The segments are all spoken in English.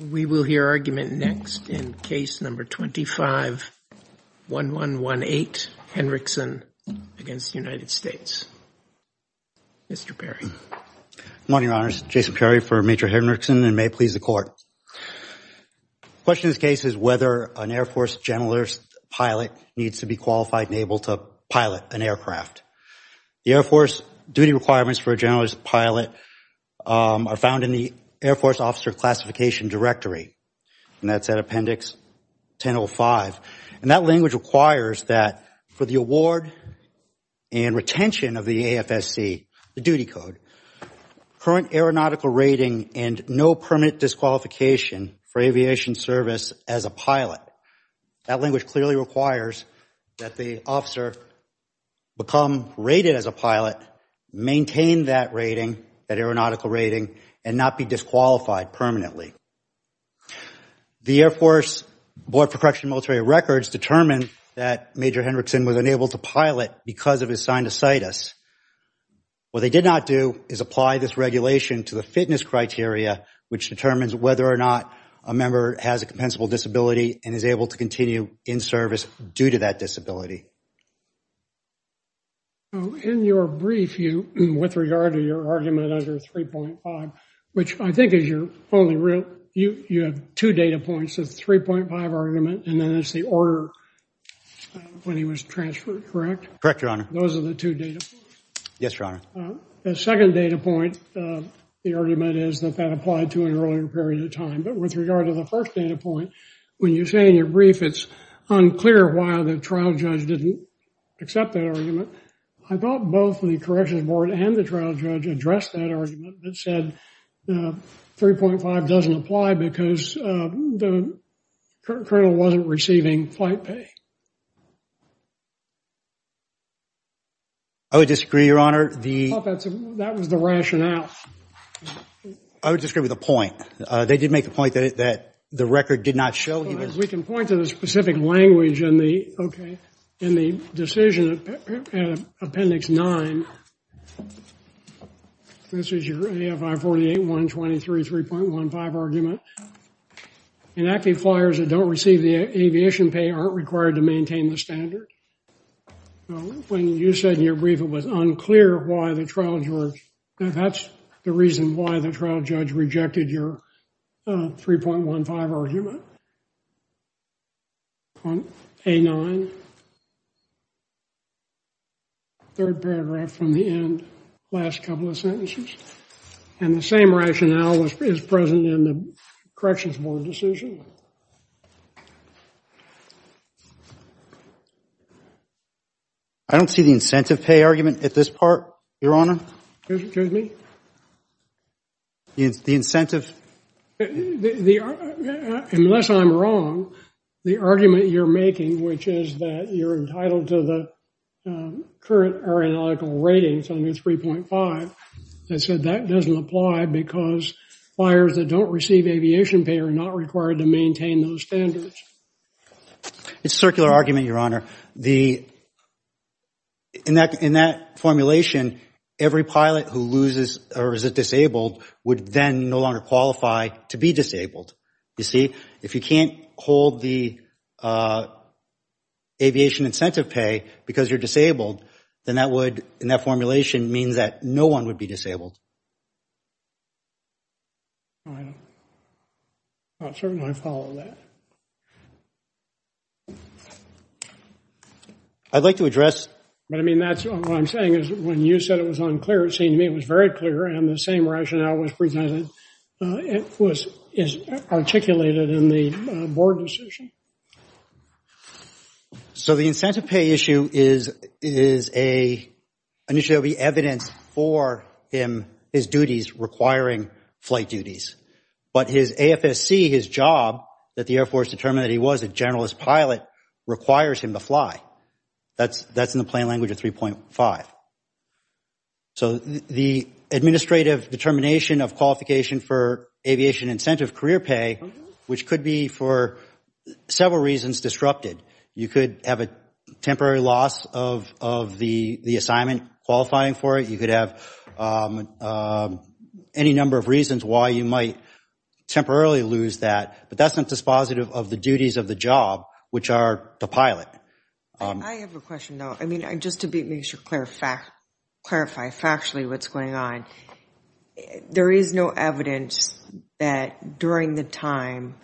We will hear argument next in case number 251118, Henrickson against the United States. Mr. Perry. Good morning, Your Honors. Jason Perry for Major Henrickson and may it please the Court. The question of this case is whether an Air Force generalist pilot needs to be qualified and able to pilot an aircraft. The Air Force duty requirements for a generalist pilot are found in the Air Force officer classification directory and that's at appendix 1005. And that language requires that for the award and retention of the AFSC, the duty code, current aeronautical rating and no permanent disqualification for aviation service as a pilot. That language clearly requires that the officer become rated as a pilot, maintain that rating, aeronautical rating and not be disqualified permanently. The Air Force Board for Correction Military Records determined that Major Henrickson was unable to pilot because of his sinusitis. What they did not do is apply this regulation to the fitness criteria, which determines whether or not a member has a compensable disability and is able to continue in service due to that disability. In your brief, with regard to your argument under 3.5, which I think is your only real, you have two data points of 3.5 argument and then it's the order when he was transferred, correct? Correct, Your Honor. Those are the two data points. Yes, Your Honor. The second data point, the argument is that that applied to an earlier period of time. But with regard to the first data when you say in your brief it's unclear why the trial judge didn't accept that argument, I thought both the corrections board and the trial judge addressed that argument that said 3.5 doesn't apply because the colonel wasn't receiving flight pay. I would disagree, Your Honor. That was the rationale. I would disagree with the point. They did make the point that the record did not show. We can point to the specific language in the decision in appendix 9. This is your AFI 48-123, 3.15 argument. Inactive flyers that don't receive the aviation pay aren't required to maintain the standard. When you said in your brief it was unclear why the trial judge, now that's the reason why the trial judge rejected your 3.15 argument. A9, third paragraph from the end, last couple of sentences. And the same rationale is present in the corrections board decision. I don't see the incentive pay argument at this part, Your Honor. Excuse me? The incentive. Unless I'm wrong, the argument you're making, which is that you're entitled to the current aeronautical ratings under 3.5, that said that doesn't apply because flyers that don't receive aviation pay are not required to maintain those standards. It's a circular argument, Your Honor. In that formulation, every pilot who loses or is disabled would then no longer qualify to be disabled. You see, if you can't hold the aviation incentive pay because you're disabled, then that would, in that formulation, mean that no one would be disabled. I'll certainly follow that. I'd like to address. But I mean, that's what I'm saying is when you said it was unclear, it seemed to me it was very clear and the same rationale was presented. It was articulated in the board decision. So the incentive pay issue is initially evidence for him, his duties requiring flight duties. But his AFSC, his job that the Air Force determined that he was a generalist pilot requires him to fly. That's in the plain language of 3.5. So the administrative determination of qualification for aviation incentive career pay, which could be for several reasons disrupted. You could have a temporary loss of the assignment qualifying for it. You could have any number of reasons why you might temporarily lose that. But that's not dispositive of the duties of the job, which are the pilot. I have a question, though. I mean, just to clarify factually what's going on. There is no evidence that during the time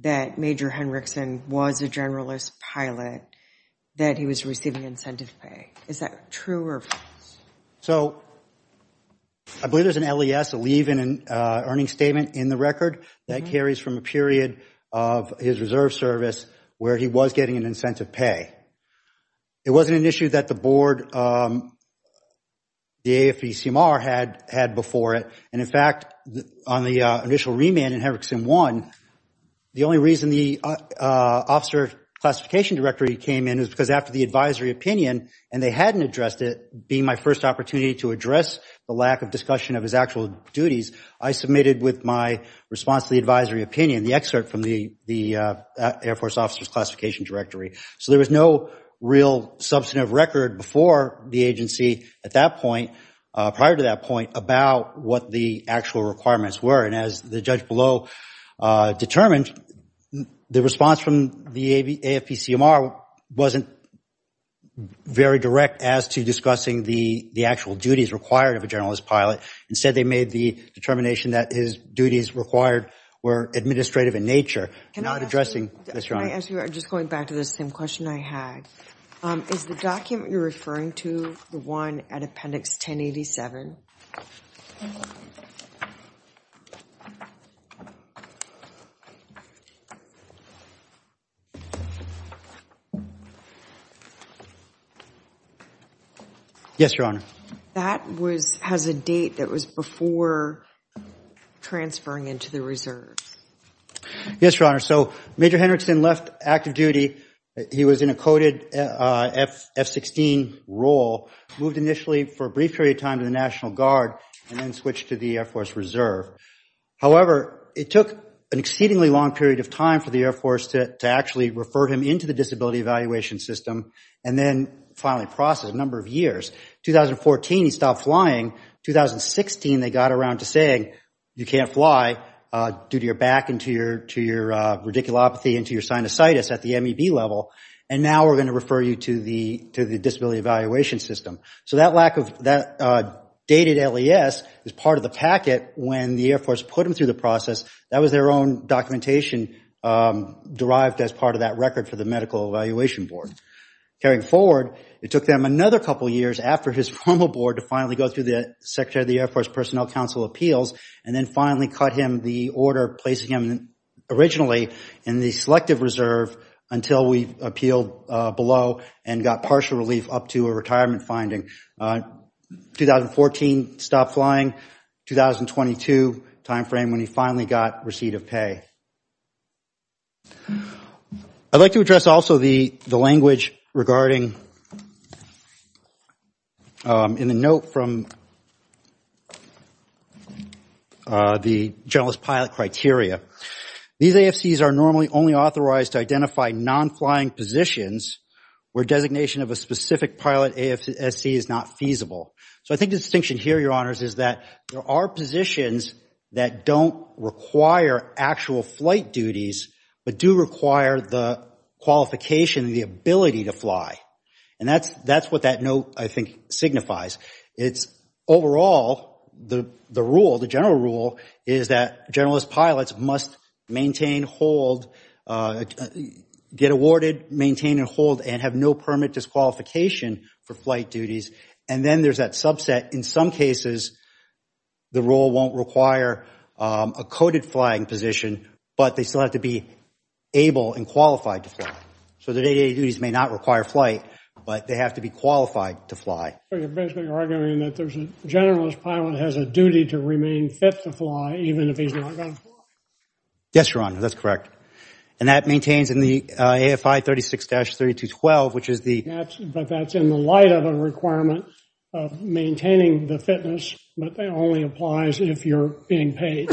that Major Henriksen was a generalist pilot that he was receiving incentive pay. Is that true? So I believe there's an LES, a leave and an earning statement in the record that carries from a period of his reserve service where he was getting an incentive pay. It wasn't an issue that the board, the AFPCR had before it. And in fact, on the initial remand in Henriksen 1, the only reason the officer classification directory came in is because after the advisory opinion and they hadn't addressed it, being my first opportunity to address the lack of discussion of his actual duties, I submitted with my response to the advisory opinion, the excerpt from the real substantive record before the agency at that point, prior to that point, about what the actual requirements were. And as the judge below determined, the response from the AFPCR wasn't very direct as to discussing the actual duties required of a generalist pilot. Instead, they made the determination that his duties required were administrative in nature, not addressing— Can I ask you, just going back to the same question I had, is the document you're referring to, the one at Appendix 1087? Yes, Your Honor. That has a date that was before transferring into the reserve. Yes, Your Honor. So Major Henriksen left active duty. He was in a coded F-16 role, moved initially for a brief period of time to the National Guard, and then switched to the Air Force Reserve. However, it took an exceedingly long period of time for the Air Force to actually refer him into the disability evaluation system, and then finally process a number of years. 2014, he stopped flying. 2016, they got around to saying, you can't fly due to your back, and to your radiculopathy, and to your sinusitis at the MEB level. And now we're going to refer you to the disability evaluation system. So that dated LES is part of the packet when the Air Force put him through the process. That was their own documentation derived as part of that record for the Medical Evaluation Board. Carrying forward, it took them another couple years after his formal board to finally go Secretary of the Air Force Personnel Council appeals, and then finally cut him the order placing him originally in the selective reserve until we appealed below and got partial relief up to a retirement finding. 2014, stopped flying. 2022, time frame when he finally got receipt of pay. I'd like to address also the language regarding in the note from the generalist pilot criteria. These AFCs are normally only authorized to identify non-flying positions where designation of a specific pilot AFC is not feasible. So I think the distinction here, Your Honors, is that there are positions that don't require actual flight duties, but do require the qualification and the ability to fly. And that's what that note, I think, signifies. It's overall the rule, the general rule, is that generalist pilots must maintain, hold, get awarded, maintain and hold, and have no permit disqualification for flight duties. And then there's that subset. In some cases, the rule won't require a coded flying position, but they still have to be able and qualified to fly. So the duties may not require flight, but they have to be qualified to fly. So you're basically arguing that there's a generalist pilot has a duty to remain fit to fly even if he's not going to fly? Yes, Your Honor, that's correct. And that maintains in the AFI 36-3212, which is the... But that's in the light of a requirement of maintaining the fitness, but that only applies if you're being paid.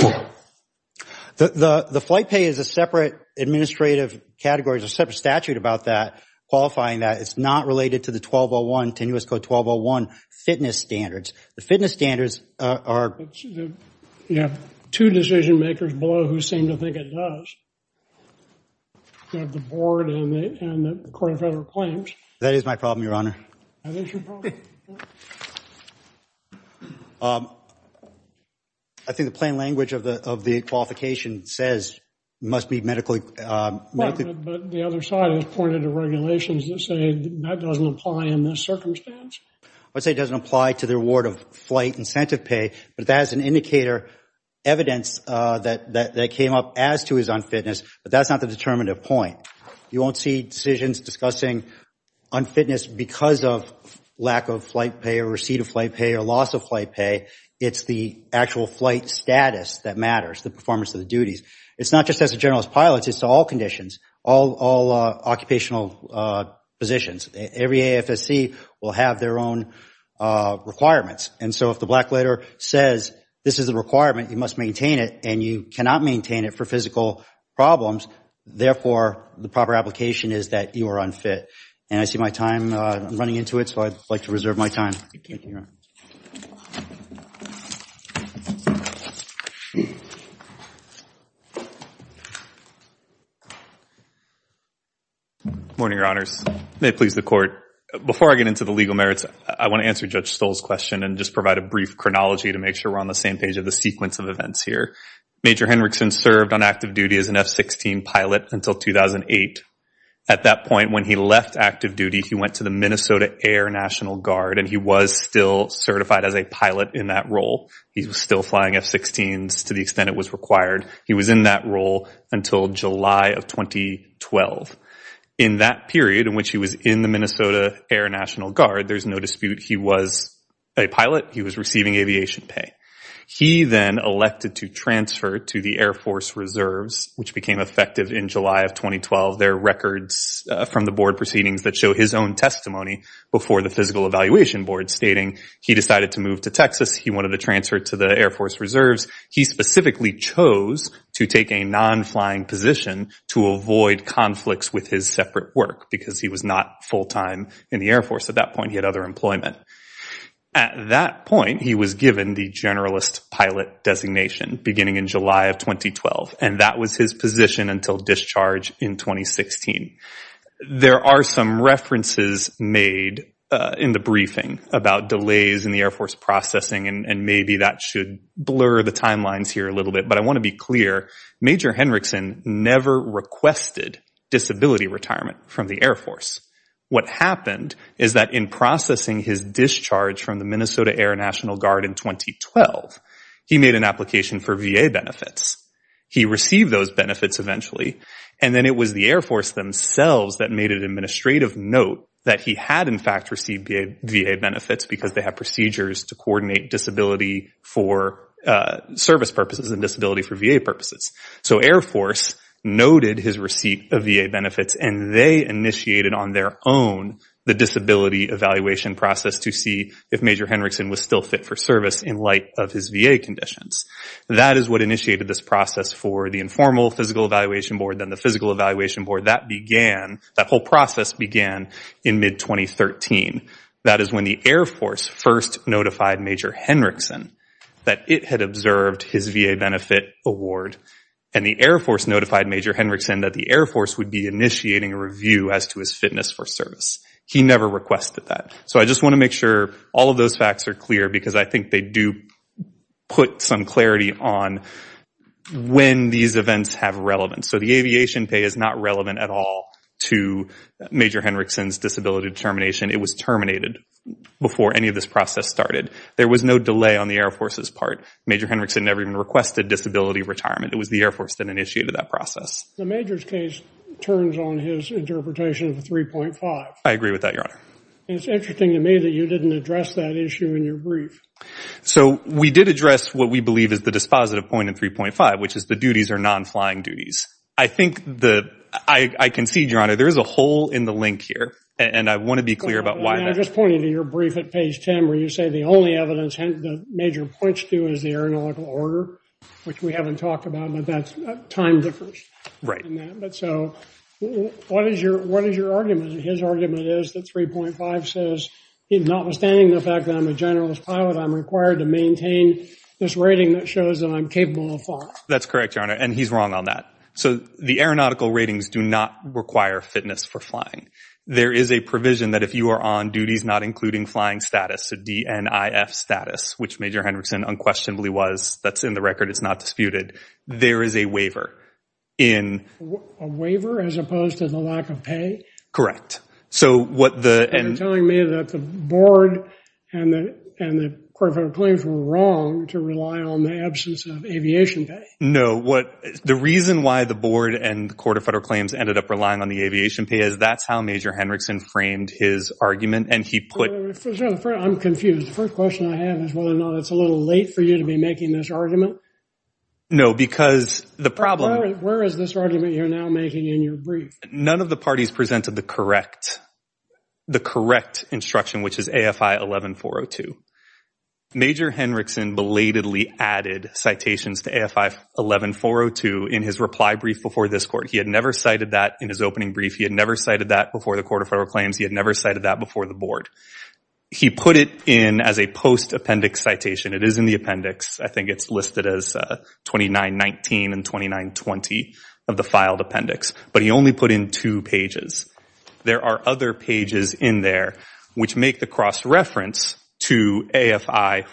The flight pay is a separate administrative category. There's a separate statute about that qualifying that. It's not related to the 1201, 10 U.S. Code 1201 fitness standards. The fitness standards are... You have two decision makers below who seem to think it does. You have the board and the court of federal claims. That is my problem, Your Honor. I think the plain language of the qualification says it must be medically... But the other side has pointed to regulations that say that doesn't apply in this circumstance? I would say it doesn't apply to the reward of flight incentive pay, but that is an indicator evidence that came up as to his unfitness, but that's not the determinative point. You won't see decisions discussing unfitness because of lack of flight pay or receipt of flight pay or loss of flight pay. It's the actual flight status that matters, the performance of the duties. It's not just as a generalist pilot. It's all conditions, all occupational positions. Every AFSC will have their own requirements. And so if the black letter says this is a requirement, you must maintain it, and you cannot maintain it for physical problems. Therefore, the proper application is that you are unfit. And I see my time running into it, so I'd like to reserve my time. Morning, Your Honors. May it please the court. Before I get into the legal merits, I want to answer Judge Stoll's question and just provide a brief chronology to make sure we're on the sequence of events here. Major Henrickson served on active duty as an F-16 pilot until 2008. At that point, when he left active duty, he went to the Minnesota Air National Guard, and he was still certified as a pilot in that role. He was still flying F-16s to the extent it was required. He was in that role until July of 2012. In that period in which he was in the Minnesota Air National Guard, there's no dispute he was a pilot. He was receiving aviation pay. He then elected to transfer to the Air Force Reserves, which became effective in July of 2012. There are records from the board proceedings that show his own testimony before the Physical Evaluation Board stating he decided to move to Texas. He wanted to transfer to the Air Force Reserves. He specifically chose to take a non-flying position to avoid conflicts with his separate work because he was not full-time in the Air Force. At that point, he had other pilot designations beginning in July of 2012, and that was his position until discharge in 2016. There are some references made in the briefing about delays in the Air Force processing, and maybe that should blur the timelines here a little bit, but I want to be clear. Major Henrickson never requested disability retirement from the Air Force. What happened is that in processing his discharge from the Minnesota Air National Guard in 2012, he made an application for VA benefits. He received those benefits eventually, and then it was the Air Force themselves that made an administrative note that he had, in fact, received VA benefits because they have procedures to coordinate disability for service purposes and disability for VA purposes. So Air Force noted his receipt of VA benefits, and they initiated on their own the disability evaluation process to see if Major Henrickson was still fit for service in light of his VA conditions. That is what initiated this process for the informal physical evaluation board, then the physical evaluation board. That whole process began in mid-2013. That is when the Air Force first notified Major Henrickson that it had observed his VA benefit award, and the Air Force notified Major Henrickson that the Air Force would be review as to his fitness for service. He never requested that. So I just want to make sure all of those facts are clear because I think they do put some clarity on when these events have relevance. So the aviation pay is not relevant at all to Major Henrickson's disability determination. It was terminated before any of this process started. There was no delay on the Air Force's part. Major Henrickson never even requested disability retirement. It was the Air Force that initiated that process. The Majors case turns on his interpretation of 3.5. I agree with that, Your Honor. It's interesting to me that you didn't address that issue in your brief. So we did address what we believe is the dispositive point in 3.5, which is the duties are non-flying duties. I think the, I concede, Your Honor, there is a hole in the link here, and I want to be clear about why that is. I'm just pointing to your brief at page 10 where you say the only evidence the Major points to is the aeronautical order, which we haven't talked about, but that's a time difference. Right. So what is your argument? His argument is that 3.5 says notwithstanding the fact that I'm a generalist pilot, I'm required to maintain this rating that shows that I'm capable of flying. That's correct, Your Honor, and he's wrong on that. So the aeronautical ratings do not require fitness for flying. There is a provision that if you are on duties not including flying status, so DNIF status, which Major Henrickson unquestionably was, that's in the record, it's not disputed, there is a waiver in... A waiver as opposed to the lack of pay? Correct. So what the... And you're telling me that the Board and the, and the Court of Federal Claims were wrong to rely on the absence of aviation pay? No, what, the reason why the Board and the Court of Federal Claims ended up relying on the aviation pay is that's how Major Henrickson framed his argument, and he put... I'm confused. The first question I have is whether or not it's a little late for you to be making this argument. No, because the problem... Where is this argument you're now making in your brief? None of the parties presented the correct, the correct instruction, which is AFI 11-402. Major Henrickson belatedly added citations to AFI 11-402 in his reply brief before this Court. He had never cited that in his opening brief. He had never cited that before the Court of Federal Claims. He had never cited that before the Board. He put it in as a post-appendix citation. It is in the appendix. I think it's listed as 29-19 and 29-20 of the filed appendix, but he only put in two pages. There are other pages in there which make the cross-reference to AFI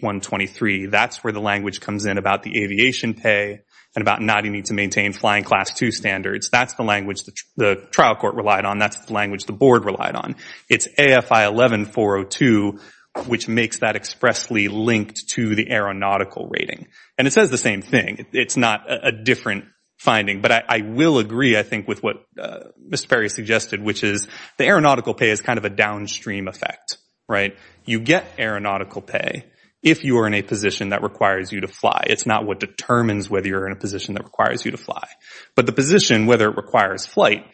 48-123. That's where the language comes in about the aviation pay and about not needing to maintain Flying Class 2 standards. That's the language the trial court relied on. That's the language the Board relied on. It's AFI 11-402, which makes that expressly linked to the aeronautical rating. And it says the same thing. It's not a different finding. But I will agree, I think, with what Mr. Perry suggested, which is the aeronautical pay is kind of a downstream effect. You get aeronautical pay if you are in a position that requires you to fly. It's not what determines whether you're in a position that requires you to fly. But the position, whether it requires flight,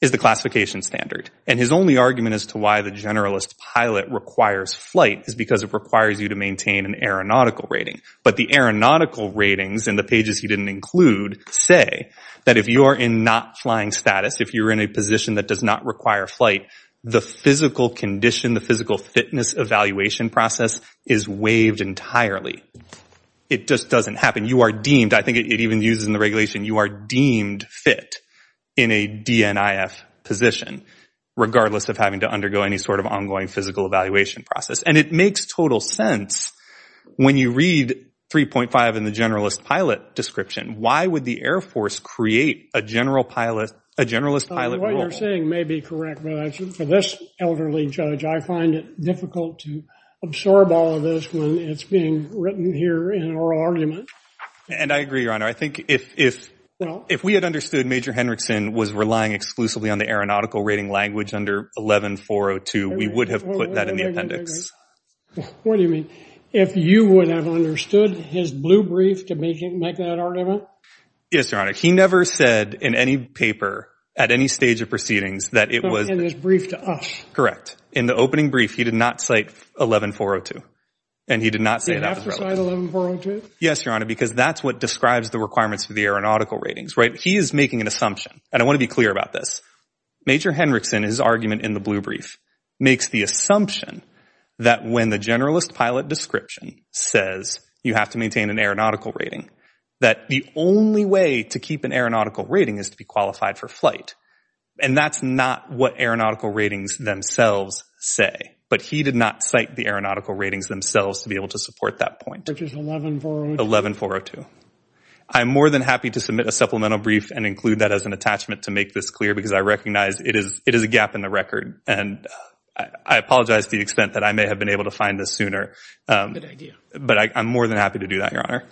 is the classification standard. And his only argument as to why the generalist pilot requires flight is because it requires you to maintain an aeronautical rating. But the aeronautical ratings in the pages he didn't include say that if you are in not flying status, if you're in a position that does not require flight, the physical condition, the physical fitness evaluation process is waived entirely. It just doesn't happen. You are deemed, I think it even uses in the in a DNIF position, regardless of having to undergo any sort of ongoing physical evaluation process. And it makes total sense when you read 3.5 in the generalist pilot description, why would the Air Force create a generalist pilot? What you're saying may be correct. But for this elderly judge, I find it difficult to absorb all of this when it's being written here in oral argument. And I agree, Your Honor. I think if we had understood Major Henrickson was relying exclusively on the aeronautical rating language under 11-402, we would have put that in the appendix. What do you mean? If you would have understood his blue brief to make that argument? Yes, Your Honor. He never said in any paper at any stage of proceedings that it was... In his brief to us. Correct. In the opening brief, he did not cite 11-402. And he did not say... 11-402? Yes, Your Honor. Because that's what describes the requirements for the aeronautical ratings, right? He is making an assumption. And I want to be clear about this. Major Henrickson, his argument in the blue brief, makes the assumption that when the generalist pilot description says you have to maintain an aeronautical rating, that the only way to keep an aeronautical rating is to be qualified for flight. And that's not what aeronautical ratings themselves say. But he did not cite the aeronautical ratings themselves to be able to support that point. Which is 11-402? 11-402. I'm more than happy to submit a supplemental brief and include that as an attachment to make this clear because I recognize it is a gap in the record. And I apologize to the extent that I may have been able to find this sooner. Good idea. But I'm more than happy to do that, Your Honor.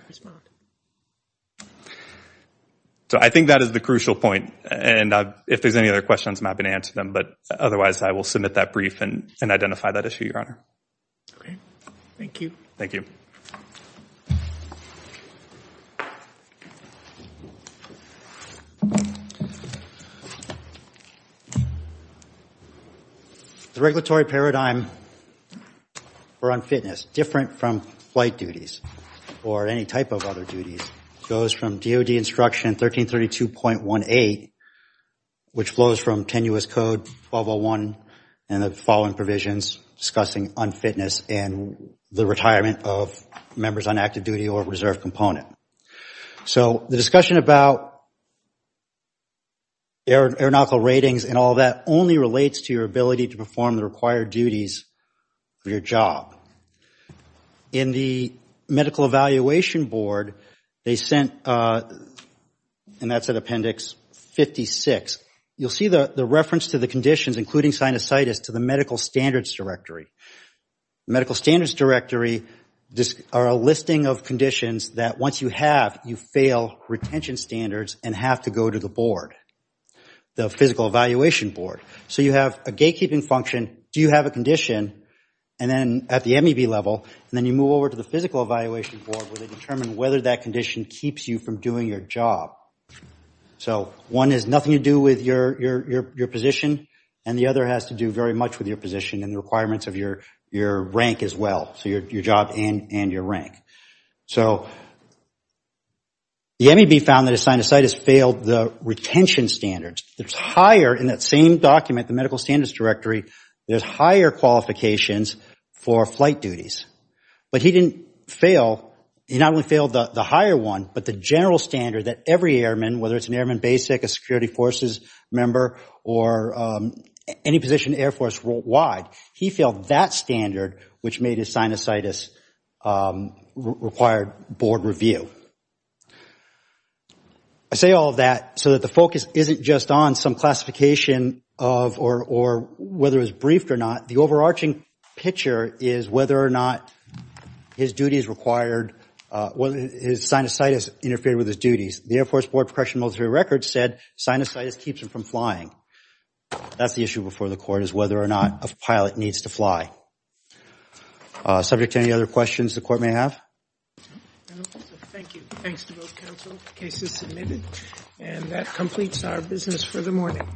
So I think that is the crucial point. And if there's any other questions, I'm happy to answer them. But otherwise, I will submit that brief and identify that issue, Your Honor. Great. Thank you. Thank you. The regulatory paradigm for unfitness, different from flight duties or any type of other duties, goes from DOD instruction 1332.18, which flows from Tenuous Code 1201 and the following provisions discussing unfitness and the retirement of members on active duty or reserve component. So the discussion about aeronautical ratings and all that only relates to your ability to perform required duties for your job. In the Medical Evaluation Board, they sent, and that's in Appendix 56, you'll see the reference to the conditions, including sinusitis, to the Medical Standards Directory. Medical Standards Directory are a listing of conditions that once you have, you fail retention standards and have to go to the board, the Physical Evaluation Board. So you have a gatekeeping function. Do you have a condition? And then at the MEB level, and then you move over to the Physical Evaluation Board where they determine whether that condition keeps you from doing your job. So one has nothing to do with your position, and the other has to do very much with your position and the requirements of your rank as well, so your job and your rank. So the MEB found that a sinusitis failed the retention standards. It's higher in that same document, the Medical Standards Directory, there's higher qualifications for flight duties. But he didn't fail, he not only failed the higher one, but the general standard that every airman, whether it's an Airman Basic, a Security Forces member, or any position Air Force-wide, he failed that standard, which made his sinusitis require board review. I say all of that so that the focus isn't just on some classification of, or whether it was briefed or not, the overarching picture is whether or not his duty is required, whether his sinusitis interfered with his duties. The Air Force Board of Professional Military Records said sinusitis keeps him from flying. That's the issue before the Court, is whether or not a pilot needs to fly. Subject to any other questions the Court may have? Thank you. Thanks to both counsel. Case is submitted, and that completes our business for the morning.